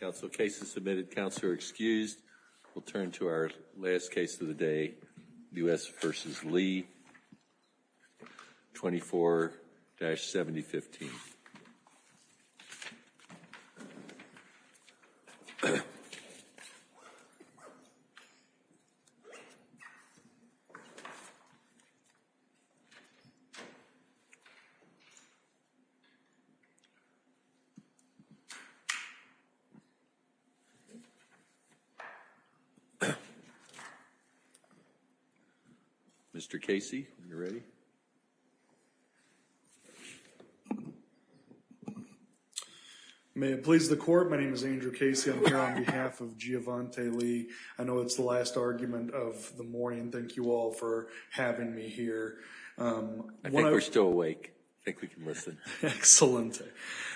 24-7015. Mr. Casey, are you ready? May it please the court, my name is Andrew Casey. I'm here on behalf of Giovante Lee. I know it's the last argument of the morning. Thank you all for having me here. I think we're still awake. I think we can listen. Excellent.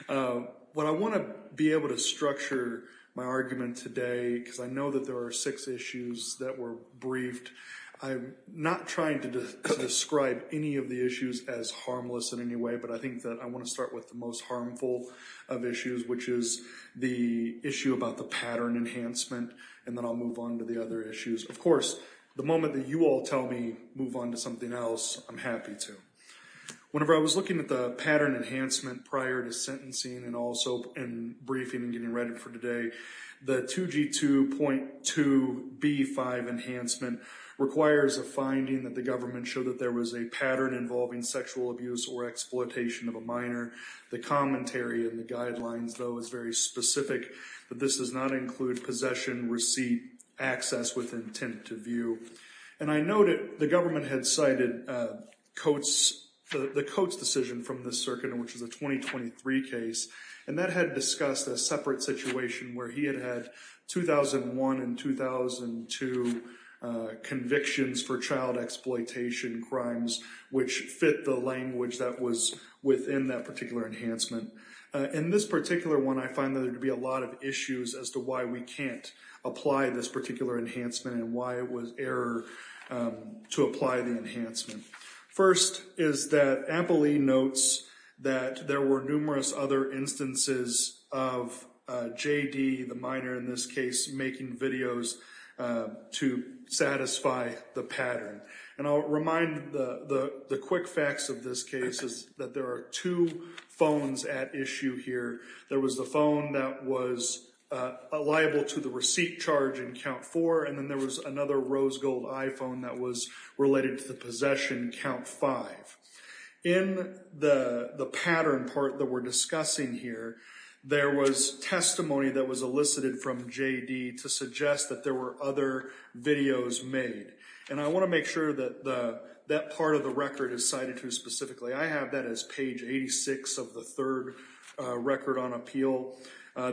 What I want to be able to structure my argument today, because I know that there are six issues that were briefed, I'm not trying to describe any of the issues as harmless in any way, but I think that I want to start with the most harmful of issues, which is the issue about the pattern enhancement, and then I'll move on to the other issues. Of course, the moment that you all tell me, move on to something else, I'm happy to. Whenever I was looking at the pattern enhancement prior to sentencing and also in briefing and getting ready for today, the 2G2.2B5 enhancement requires a finding that the government showed that there was a pattern involving sexual abuse or exploitation of a minor. The commentary in the guidelines, though, is very specific, that this does not include possession, receipt, access with intent to view. I know that the government had cited the Coates decision from the circuit, which is a 2023 case, and that had discussed a separate situation where he had had 2001 and 2002 convictions for child exploitation crimes, which fit the language that was within that particular enhancement. In this particular one, I find that there would be a lot of issues as to why we can't apply this particular enhancement and why it was error to apply the enhancement. First is that AMPL-E notes that there were numerous other instances of JD, the minor in this case, making videos to satisfy the pattern. And I'll remind the quick facts of this case is that there are two phones at issue here. There was the phone that was liable to the receipt charge in Count 4, and then there was another rose gold iPhone that was related to the possession, Count 5. In the pattern part that we're discussing here, there was testimony that was elicited from JD to suggest that there were other videos made. And I want to make sure that that part of the record is cited here specifically. I have that as page 86 of the third record on appeal.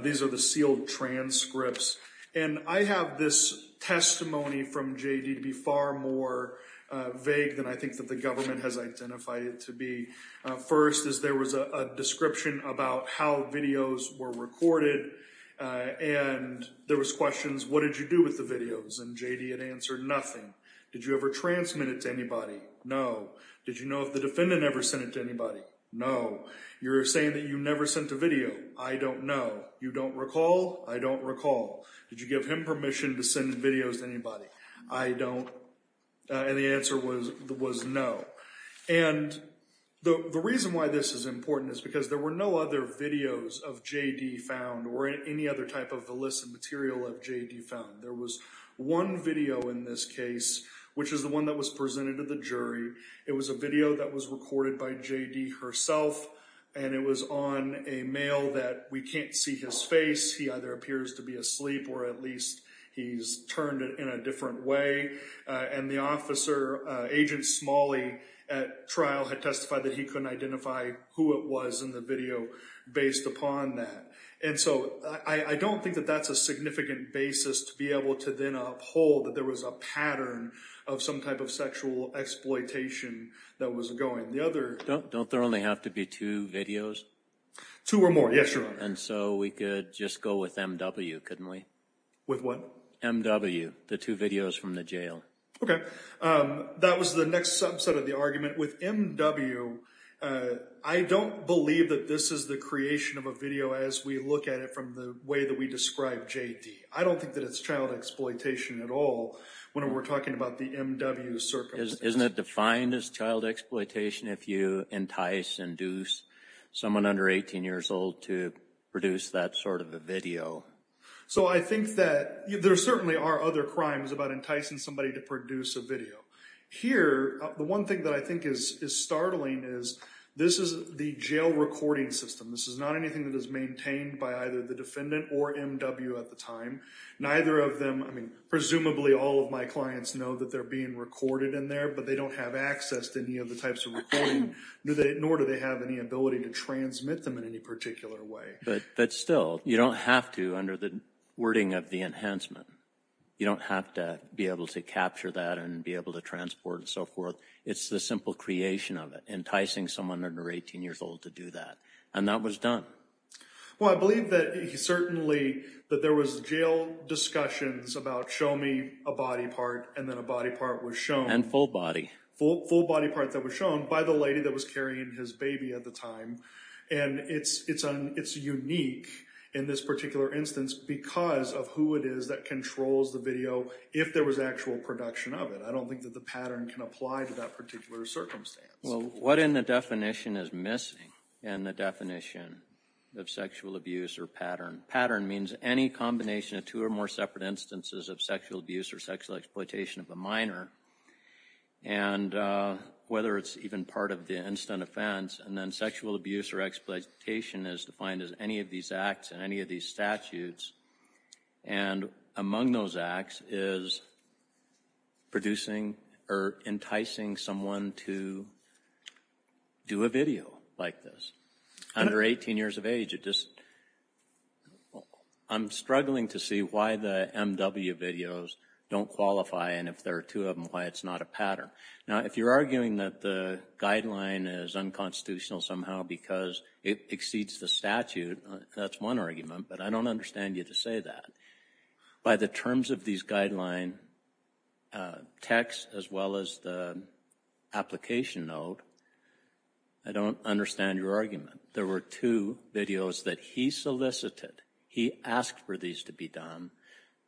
These are the sealed transcripts. And I have this testimony from JD to be far more vague than I think that the government has identified it to be. First is there was a description about how videos were recorded, and there was questions, what did you do with the videos? And JD had answered, nothing. Did you ever transmit it to anybody? No. Did you know if the defendant ever sent it to anybody? No. You're saying that you never sent a video. I don't know. You don't recall? I don't recall. Did you give him permission to send videos to anybody? I don't. And the answer was no. And the reason why this is important is because there were no other videos of JD found or any other type of illicit material of JD found. There was one video in this case, which is the one that was presented to the jury. It was a video that was recorded by JD herself, and it was on a mail that we can't see his face. He either appears to be asleep or at least he's turned in a different way. And the officer, Agent Smalley, at trial had testified that he couldn't identify who it was in the video based upon that. And so I don't think that that's a significant basis to be able to then uphold that there was a pattern of some type of sexual exploitation that was going. Don't there only have to be two videos? Two or more, yes, Your Honor. And so we could just go with M.W., couldn't we? With what? M.W., the two videos from the jail. Okay. That was the next subset of the argument. With M.W., I don't believe that this is the creation of a video as we look at it from the way that we describe JD. I don't think that it's child exploitation at all when we're talking about the M.W. circumstance. Isn't it defined as child exploitation if you entice and induce someone under 18 years old to produce that sort of a video? So I think that there certainly are other crimes about enticing somebody to produce a video. Here, the one thing that I think is startling is this is the jail recording system. This is not anything that is maintained by either the defendant or M.W. at the time. Neither of them, I mean, presumably all of my clients know that they're being recorded in there, but they don't have access to any of the types of recording, nor do they have any ability to transmit them in any particular way. But still, you don't have to under the wording of the enhancement. You don't have to be able to capture that and be able to transport and so forth. It's the simple creation of it, enticing someone under 18 years old to do that. And that was done. Well, I believe that certainly that there was jail discussions about show me a body part, and then a body part was shown. And full body. Full body part that was shown by the lady that was carrying his baby at the time. And it's unique in this particular instance because of who it is that controls the video if there was actual production of it. I don't think that the pattern can apply to that particular circumstance. Well, what in the definition is missing in the definition of sexual abuse or pattern? Pattern means any combination of two or more separate instances of sexual abuse or sexual exploitation of a minor, and whether it's even part of the instant offense. And then sexual abuse or exploitation is defined as any of these acts and any of these statutes. And among those acts is producing or enticing someone to do a video like this. Under 18 years of age, I'm struggling to see why the MW videos don't qualify and if there are two of them, why it's not a pattern. Now, if you're arguing that the guideline is unconstitutional somehow because it exceeds the statute, that's one argument, but I don't understand you to say that. By the terms of these guideline texts as well as the application note, I don't understand your argument. There were two videos that he solicited. He asked for these to be done.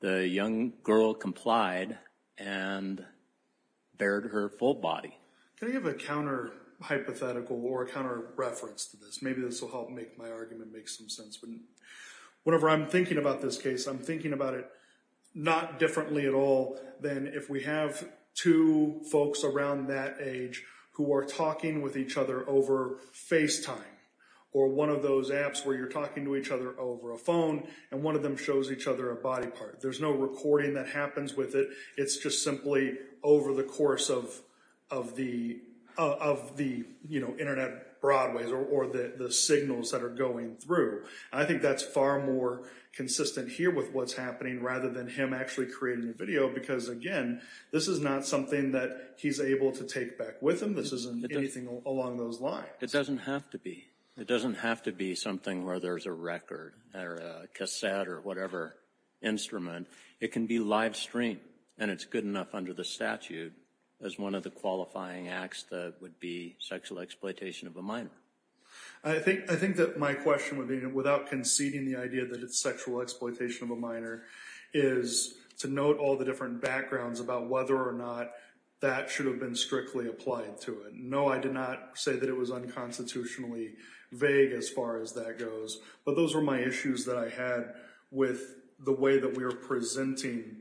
The young girl complied and bared her full body. Can I give a counter-hypothetical or a counter-reference to this? Maybe this will help make my argument make some sense. Whenever I'm thinking about this case, I'm thinking about it not differently at all than if we have two folks around that age who are talking with each other over FaceTime or one of those apps where you're talking to each other over a phone and one of them shows each other a body part. There's no recording that happens with it. It's just simply over the course of the Internet broadways or the signals that are going through. I think that's far more consistent here with what's happening rather than him actually creating the video because, again, this is not something that he's able to take back with him. This isn't anything along those lines. It doesn't have to be. It doesn't have to be something where there's a record or a cassette or whatever instrument. It can be live streamed, and it's good enough under the statute as one of the qualifying acts that would be sexual exploitation of a minor. I think that my question, without conceding the idea that it's sexual exploitation of a minor, is to note all the different backgrounds about whether or not that should have been strictly applied to it. No, I did not say that it was unconstitutionally vague as far as that goes, but those were my issues that I had with the way that we were presenting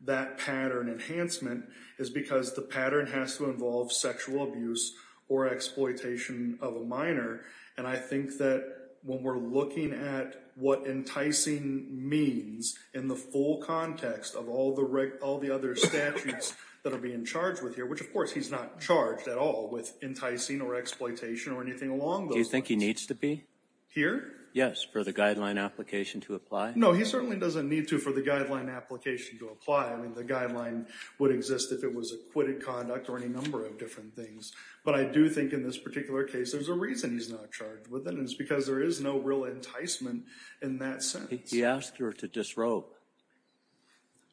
that pattern enhancement is because the pattern has to involve sexual abuse or exploitation of a minor, and I think that when we're looking at what enticing means in the full context of all the other statutes that are being charged with here, which, of course, he's not charged at all with enticing or exploitation or anything along those lines. Do you think he needs to be? Here? Yes, for the guideline application to apply? No, he certainly doesn't need to for the guideline application to apply. I mean, the guideline would exist if it was acquitted conduct or any number of different things, but I do think in this particular case there's a reason he's not charged with it, and it's because there is no real enticement in that sense. He asked her to disrobe.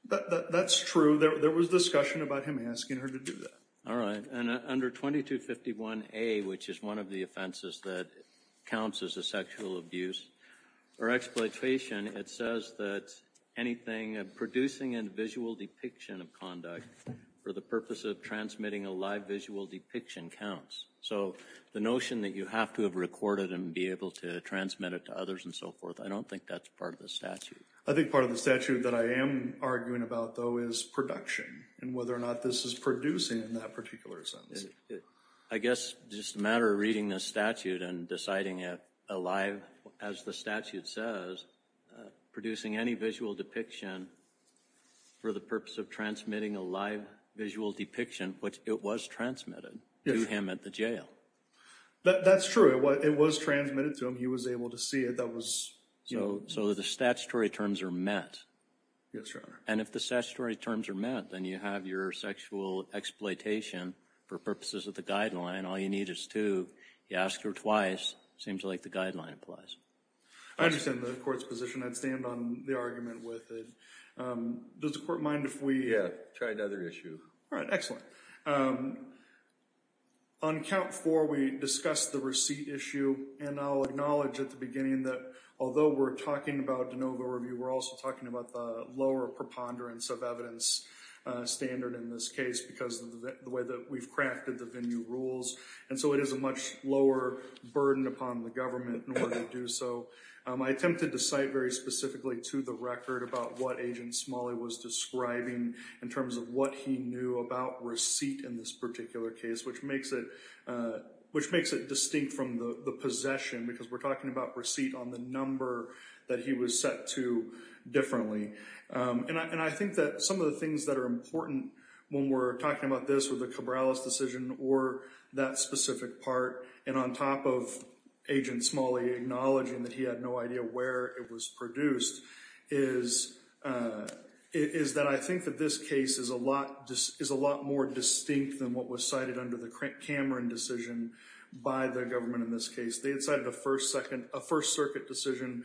That's true. There was discussion about him asking her to do that. All right, and under 2251A, which is one of the offenses that counts as a sexual abuse or exploitation, it says that anything producing a visual depiction of conduct for the purpose of transmitting a live visual depiction counts. So the notion that you have to have recorded and be able to transmit it to others and so forth, I don't think that's part of the statute. I think part of the statute that I am arguing about, though, is production and whether or not this is producing in that particular sense. I guess it's just a matter of reading the statute and deciding it alive, as the statute says, producing any visual depiction for the purpose of transmitting a live visual depiction, which it was transmitted to him at the jail. That's true. It was transmitted to him. He was able to see it. So the statutory terms are met. Yes, Your Honor. And if the statutory terms are met, then you have your sexual exploitation for purposes of the guideline. All you need is two. You ask her twice. It seems like the guideline applies. I understand the Court's position. I'd stand on the argument with it. Does the Court mind if we try another issue? All right, excellent. On count four, we discussed the receipt issue, and I'll acknowledge at the beginning that although we're talking about de novo review, we're also talking about the lower preponderance of evidence standard in this case because of the way that we've crafted the venue rules. And so it is a much lower burden upon the government in order to do so. I attempted to cite very specifically to the record about what Agent Smalley was describing in terms of what he knew about receipt in this particular case, which makes it distinct from the possession because we're talking about receipt on the number that he was set to differently. And I think that some of the things that are important when we're talking about this with the Cabrales decision or that specific part, and on top of Agent Smalley acknowledging that he had no idea where it was produced, is that I think that this case is a lot more distinct than what was cited under the Cameron decision by the government in this case. They had cited a First Circuit decision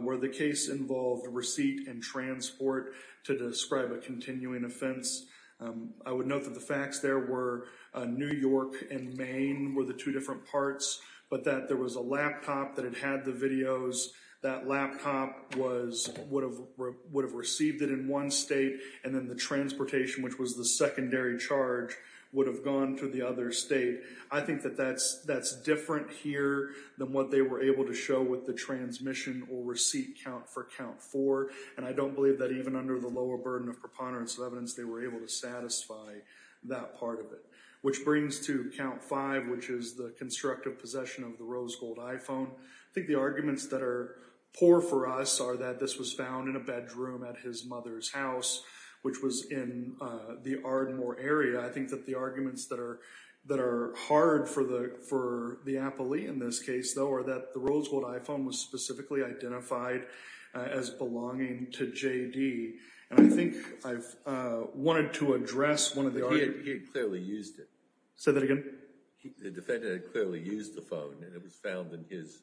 where the case involved receipt and transport to describe a continuing offense. I would note that the facts there were New York and Maine were the two different parts, but that there was a laptop that had had the videos. That laptop would have received it in one state, and then the transportation, which was the secondary charge, would have gone to the other state. I think that that's different here than what they were able to show with the transmission or receipt count for Count 4, and I don't believe that even under the lower burden of preponderance of evidence they were able to satisfy that part of it. Which brings to Count 5, which is the constructive possession of the rose gold iPhone. I think the arguments that are poor for us are that this was found in a bedroom at his mother's house, which was in the Ardenmore area. I think that the arguments that are hard for the appellee in this case, though, are that the rose gold iPhone was specifically identified as belonging to J.D., and I think I've wanted to address one of the arguments. He had clearly used it. Say that again? The defendant had clearly used the phone, and it was found in his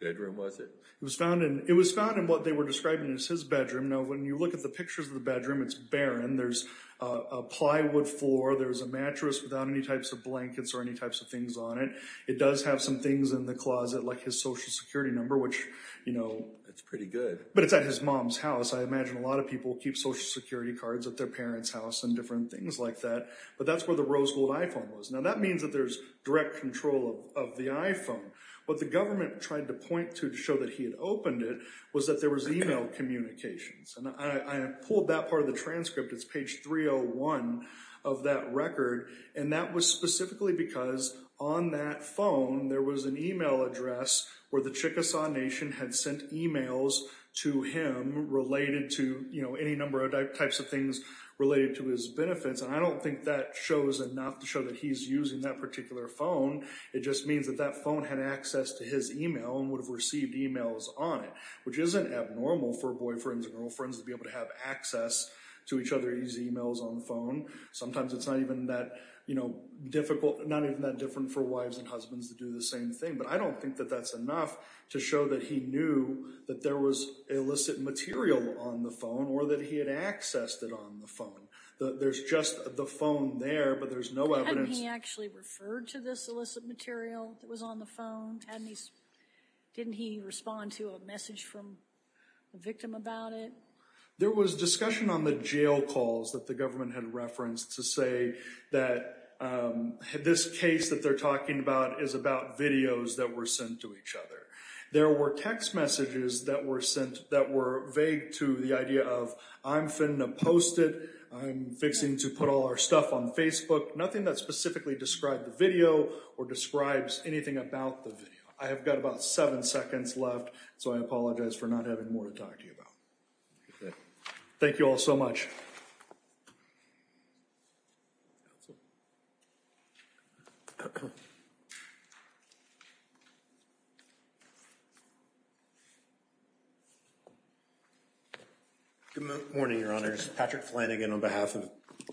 bedroom, was it? It was found in what they were describing as his bedroom. Now, when you look at the pictures of the bedroom, it's barren. There's a plywood floor. There's a mattress without any types of blankets or any types of things on it. It does have some things in the closet like his Social Security number, which, you know. It's pretty good. But it's at his mom's house. I imagine a lot of people keep Social Security cards at their parents' house and different things like that. But that's where the rose gold iPhone was. Now, that means that there's direct control of the iPhone. What the government tried to point to to show that he had opened it was that there was email communications. And I pulled that part of the transcript. It's page 301 of that record. And that was specifically because on that phone there was an email address where the Chickasaw Nation had sent emails to him related to, you know, any number of types of things related to his benefits. And I don't think that shows enough to show that he's using that particular phone. It just means that that phone had access to his email and would have received emails on it, which isn't abnormal for boyfriends and girlfriends to be able to have access to each other's emails on the phone. Sometimes it's not even that, you know, difficult, not even that different for wives and husbands to do the same thing. But I don't think that that's enough to show that he knew that there was illicit material on the phone or that he had accessed it on the phone. There's just the phone there, but there's no evidence. Hadn't he actually referred to this illicit material that was on the phone? Didn't he respond to a message from the victim about it? There was discussion on the jail calls that the government had referenced to say that this case that they're talking about is about videos that were sent to each other. There were text messages that were sent that were vague to the idea of, I'm finna post it, I'm fixing to put all our stuff on Facebook, nothing that specifically described the video or describes anything about the video. I have got about seven seconds left, so I apologize for not having more to talk to you about. Thank you all so much. Good morning, Your Honors. Patrick Flanagan on behalf of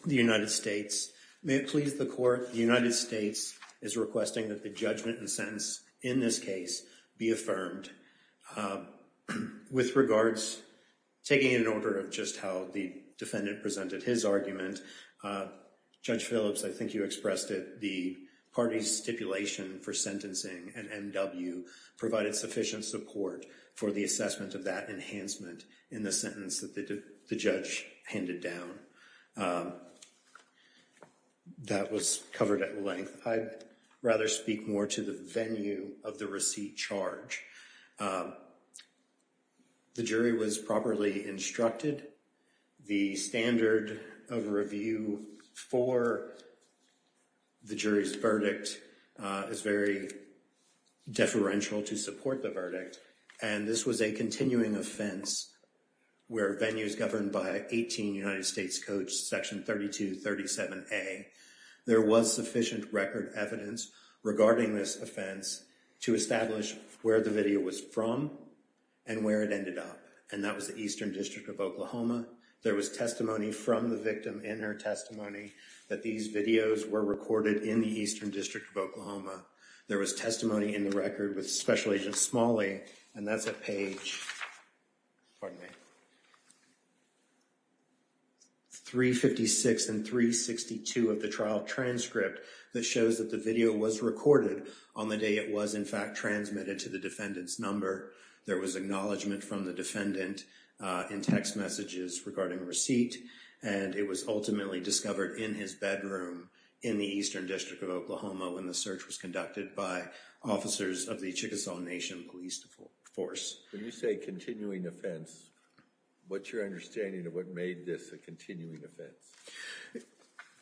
the United States. May it please the Court, the United States is requesting that the judgment and sentence in this case be affirmed. With regards, taking it in order of just how the defendant presented his argument, Judge Phillips, I think you expressed it, the party's stipulation for sentencing and M.W. provided sufficient support for the assessment of that enhancement in the sentence that the judge handed down. That was covered at length. I'd rather speak more to the venue of the receipt charge. The jury was properly instructed. The standard of review for the jury's verdict is very deferential to support the verdict, and this was a continuing offense where venues governed by 18 United States Code Section 3237A. There was sufficient record evidence regarding this offense to establish where the video was from and where it ended up, and that was the Eastern District of Oklahoma. There was testimony from the victim in her testimony that these videos were recorded in the Eastern District of Oklahoma. There was testimony in the record with Special Agent Smalley, and that's at page 356 and 362 of the trial transcript that shows that the video was recorded on the day it was, in fact, transmitted to the defendant's number. There was acknowledgment from the defendant in text messages regarding receipt, and it was ultimately discovered in his bedroom in the Eastern District of Oklahoma when the search was conducted by officers of the Chickasaw Nation Police Force. When you say continuing offense, what's your understanding of what made this a continuing offense?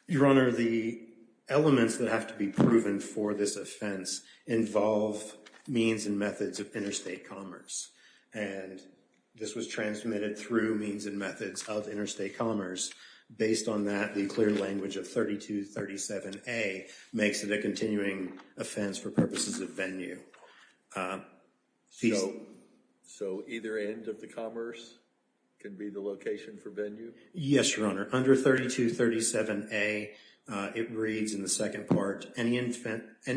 Your Honor, the elements that have to be proven for this offense involve means and methods of interstate commerce, and this was transmitted through means and methods of interstate commerce. Based on that, the clear language of 3237A makes it a continuing offense for purposes of venue. So either end of the commerce can be the location for venue? Yes, Your Honor. Under 3237A, it reads in the second part, any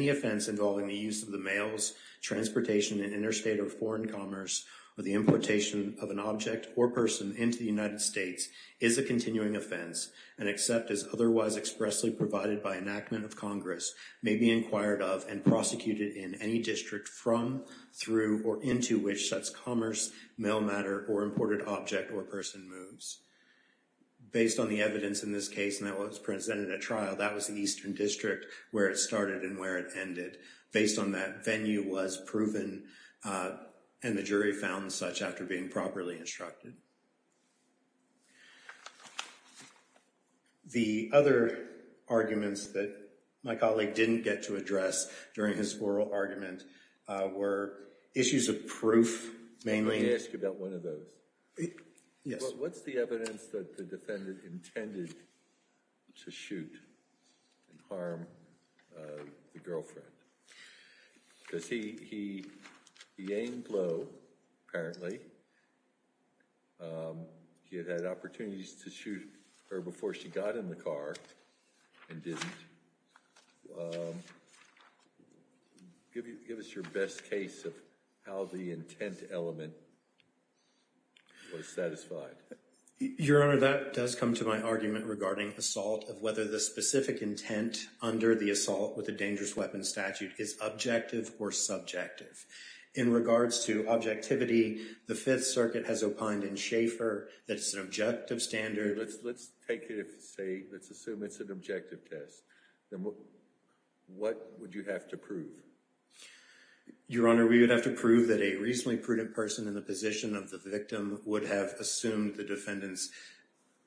offense involving the use of the mails, transportation, and interstate or foreign commerce, or the importation of an object or person into the United States is a continuing offense and except as otherwise expressly provided by enactment of Congress may be inquired of and prosecuted in any district from, through, or into which such commerce, mail matter, or imported object or person moves. Based on the evidence in this case, and that was presented at trial, that was the eastern district where it started and where it ended. Based on that, venue was proven and the jury found such after being properly instructed. The other arguments that my colleague didn't get to address during his oral argument were issues of proof, mainly. Let me ask you about one of those. Yes. What's the evidence that the defendant intended to shoot and harm the girlfriend? Because he aimed low, apparently. He had had opportunities to shoot her before she got in the car and didn't. Give us your best case of how the intent element was satisfied. Your Honor, that does come to my argument regarding assault, of whether the specific intent under the assault with a dangerous weapon statute is objective or subjective. In regards to objectivity, the Fifth Circuit has opined in Schaeffer that it's an objective standard. Let's assume it's an objective test. What would you have to prove? Your Honor, we would have to prove that a reasonably prudent person in the position of the victim would have assumed the defendant's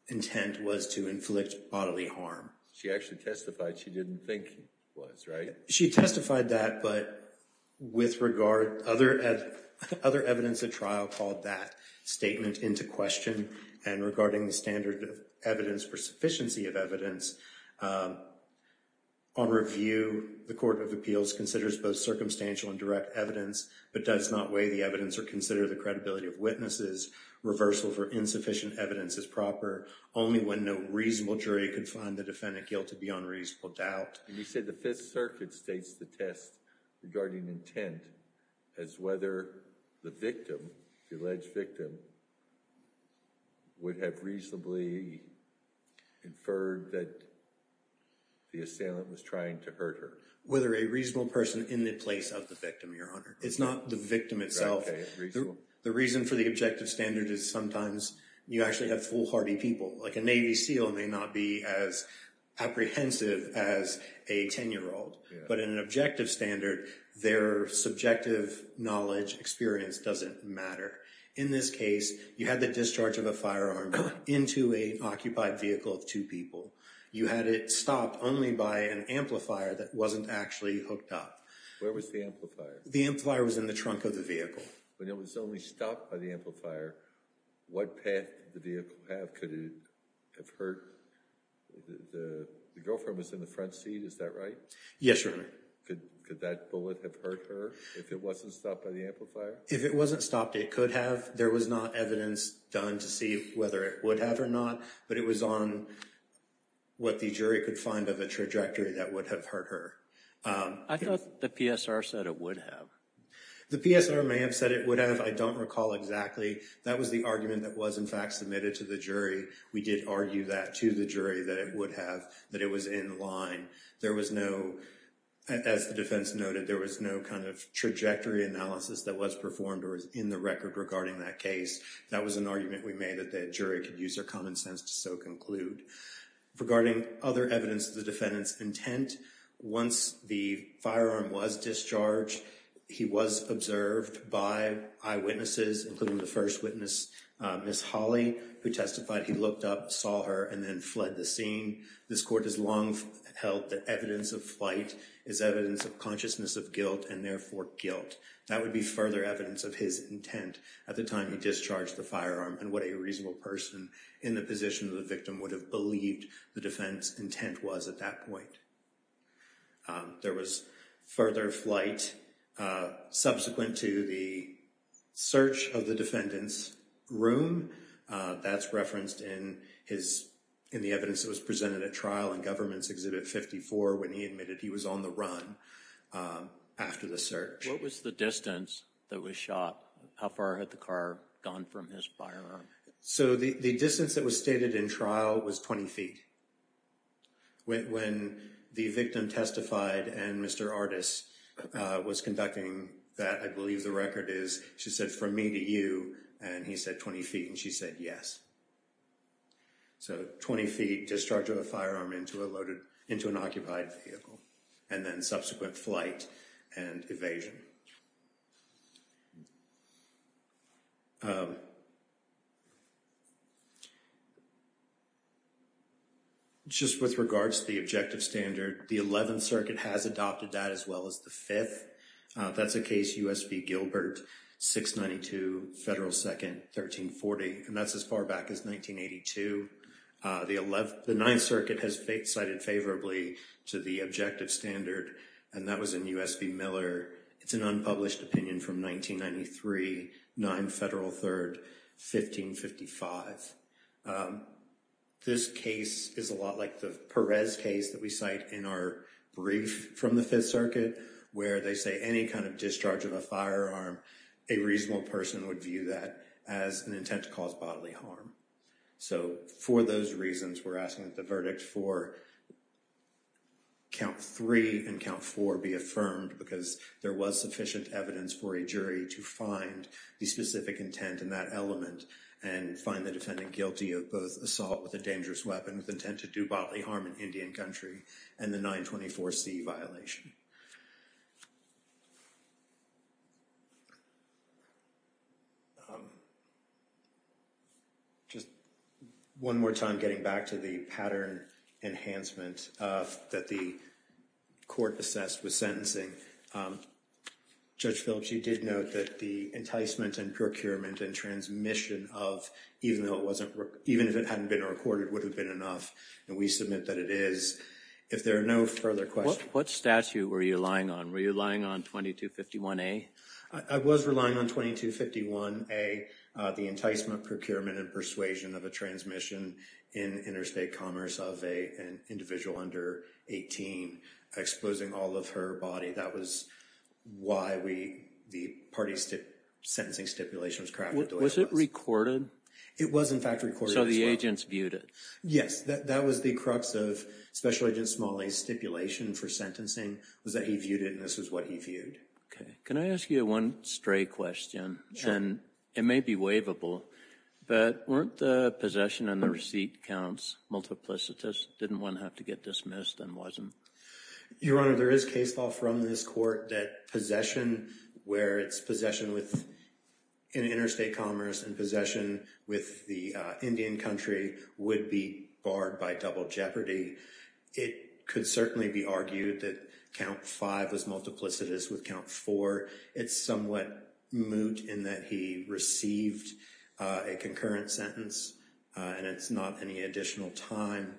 intent was to inflict bodily harm. She actually testified she didn't think he was, right? She testified that, but with regard to other evidence at trial, I'll call that statement into question. And regarding the standard of evidence for sufficiency of evidence, on review, the Court of Appeals considers both circumstantial and direct evidence but does not weigh the evidence or consider the credibility of witnesses. Reversal for insufficient evidence is proper only when no reasonable jury can find the defendant guilty beyond reasonable doubt. And you said the Fifth Circuit states the test regarding intent as whether the victim, the alleged victim, would have reasonably inferred that the assailant was trying to hurt her. Whether a reasonable person in the place of the victim, Your Honor. It's not the victim itself. The reason for the objective standard is sometimes you actually have foolhardy people. Like a Navy SEAL may not be as apprehensive as a 10-year-old, but in an objective standard, their subjective knowledge experience doesn't matter. In this case, you had the discharge of a firearm into an occupied vehicle of two people. You had it stopped only by an amplifier that wasn't actually hooked up. Where was the amplifier? The amplifier was in the trunk of the vehicle. When it was only stopped by the amplifier, what path did the vehicle have? Could it have hurt? The girlfriend was in the front seat, is that right? Yes, Your Honor. Could that bullet have hurt her if it wasn't stopped by the amplifier? If it wasn't stopped, it could have. There was not evidence done to see whether it would have or not, but it was on what the jury could find of a trajectory that would have hurt her. I thought the PSR said it would have. The PSR may have said it would have. I don't recall exactly. That was the argument that was, in fact, submitted to the jury. We did argue that to the jury that it would have, that it was in line. There was no, as the defense noted, there was no kind of trajectory analysis that was performed or is in the record regarding that case. That was an argument we made that the jury could use their common sense to so conclude. Regarding other evidence of the defendant's intent, once the firearm was discharged, he was observed by eyewitnesses, including the first witness, Ms. Holly, who testified he looked up, saw her, and then fled the scene. This court has long held that evidence of flight is evidence of consciousness of guilt and, therefore, guilt. That would be further evidence of his intent at the time he discharged the firearm and what a reasonable person in the position of the victim would have believed the defense intent was at that point. There was further flight subsequent to the search of the defendant's room. That's referenced in the evidence that was presented at trial in Government's Exhibit 54 when he admitted he was on the run after the search. What was the distance that was shot? How far had the car gone from his firearm? The distance that was stated in trial was 20 feet. When the victim testified and Mr. Artis was conducting that, I believe the record is she said, from me to you, and he said 20 feet, and she said yes. So 20 feet discharge of a firearm into an occupied vehicle and then subsequent flight and evasion. Just with regards to the objective standard, the Eleventh Circuit has adopted that as well as the Fifth. That's a case U.S. v. Gilbert, 692 Federal 2nd, 1340, and that's as far back as 1982. The Ninth Circuit has cited favorably to the objective standard, and that was in U.S. v. Miller. It's an unpublished opinion from 1993, 9 Federal 3rd, 1555. This case is a lot like the Perez case that we cite in our brief from the Fifth Circuit where they say any kind of discharge of a firearm, a reasonable person would view that as an intent to cause bodily harm. So for those reasons, we're asking that the verdict for Count 3 and Count 4 be affirmed because there was sufficient evidence for a jury to find the specific intent in that element and find the defendant guilty of both assault with a dangerous weapon with intent to do bodily harm in Indian country and the 924C violation. Just one more time getting back to the pattern enhancement that the court assessed with sentencing. Judge Philips, you did note that the enticement and procurement and transmission of even if it hadn't been recorded would have been enough, and we submit that it is. If there are no further questions. What statute were you relying on? Were you relying on 2251A? I was relying on 2251A. The enticement, procurement, and persuasion of a transmission in interstate commerce of an individual under 18 exposing all of her body. That was why the party sentencing stipulation was crafted. Was it recorded? It was, in fact, recorded as well. So the agents viewed it? Yes. That was the crux of Special Agent Smalley's stipulation for sentencing was that he viewed it and this is what he viewed. Okay. Can I ask you one stray question? Sure. And it may be waivable, but weren't the possession and the receipt counts multiplicitous? Didn't one have to get dismissed and wasn't? Your Honor, there is case law from this court that possession where it's possession in interstate commerce and possession with the Indian country would be barred by double jeopardy. It could certainly be argued that count five was multiplicitous with count four. It's somewhat moot in that he received a concurrent sentence and it's not any additional time.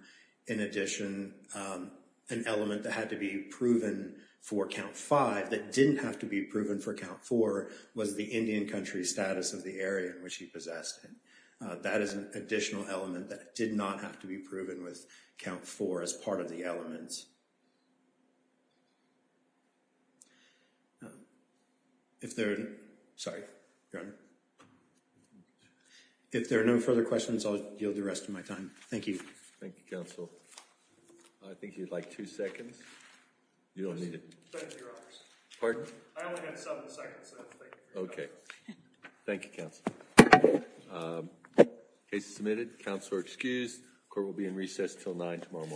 In addition, an element that had to be proven for count five that didn't have to be proven for count four was the Indian country status of the area in which he possessed it. That is an additional element that did not have to be proven with count four as part of the elements. If there are no further questions, I'll yield the rest of my time. Thank you. Thank you, Council. I think you'd like two seconds. You don't need it. I only have seven seconds. Okay. Thank you, Council. Case is submitted. Counsel are excused. Court will be in recess until nine tomorrow morning.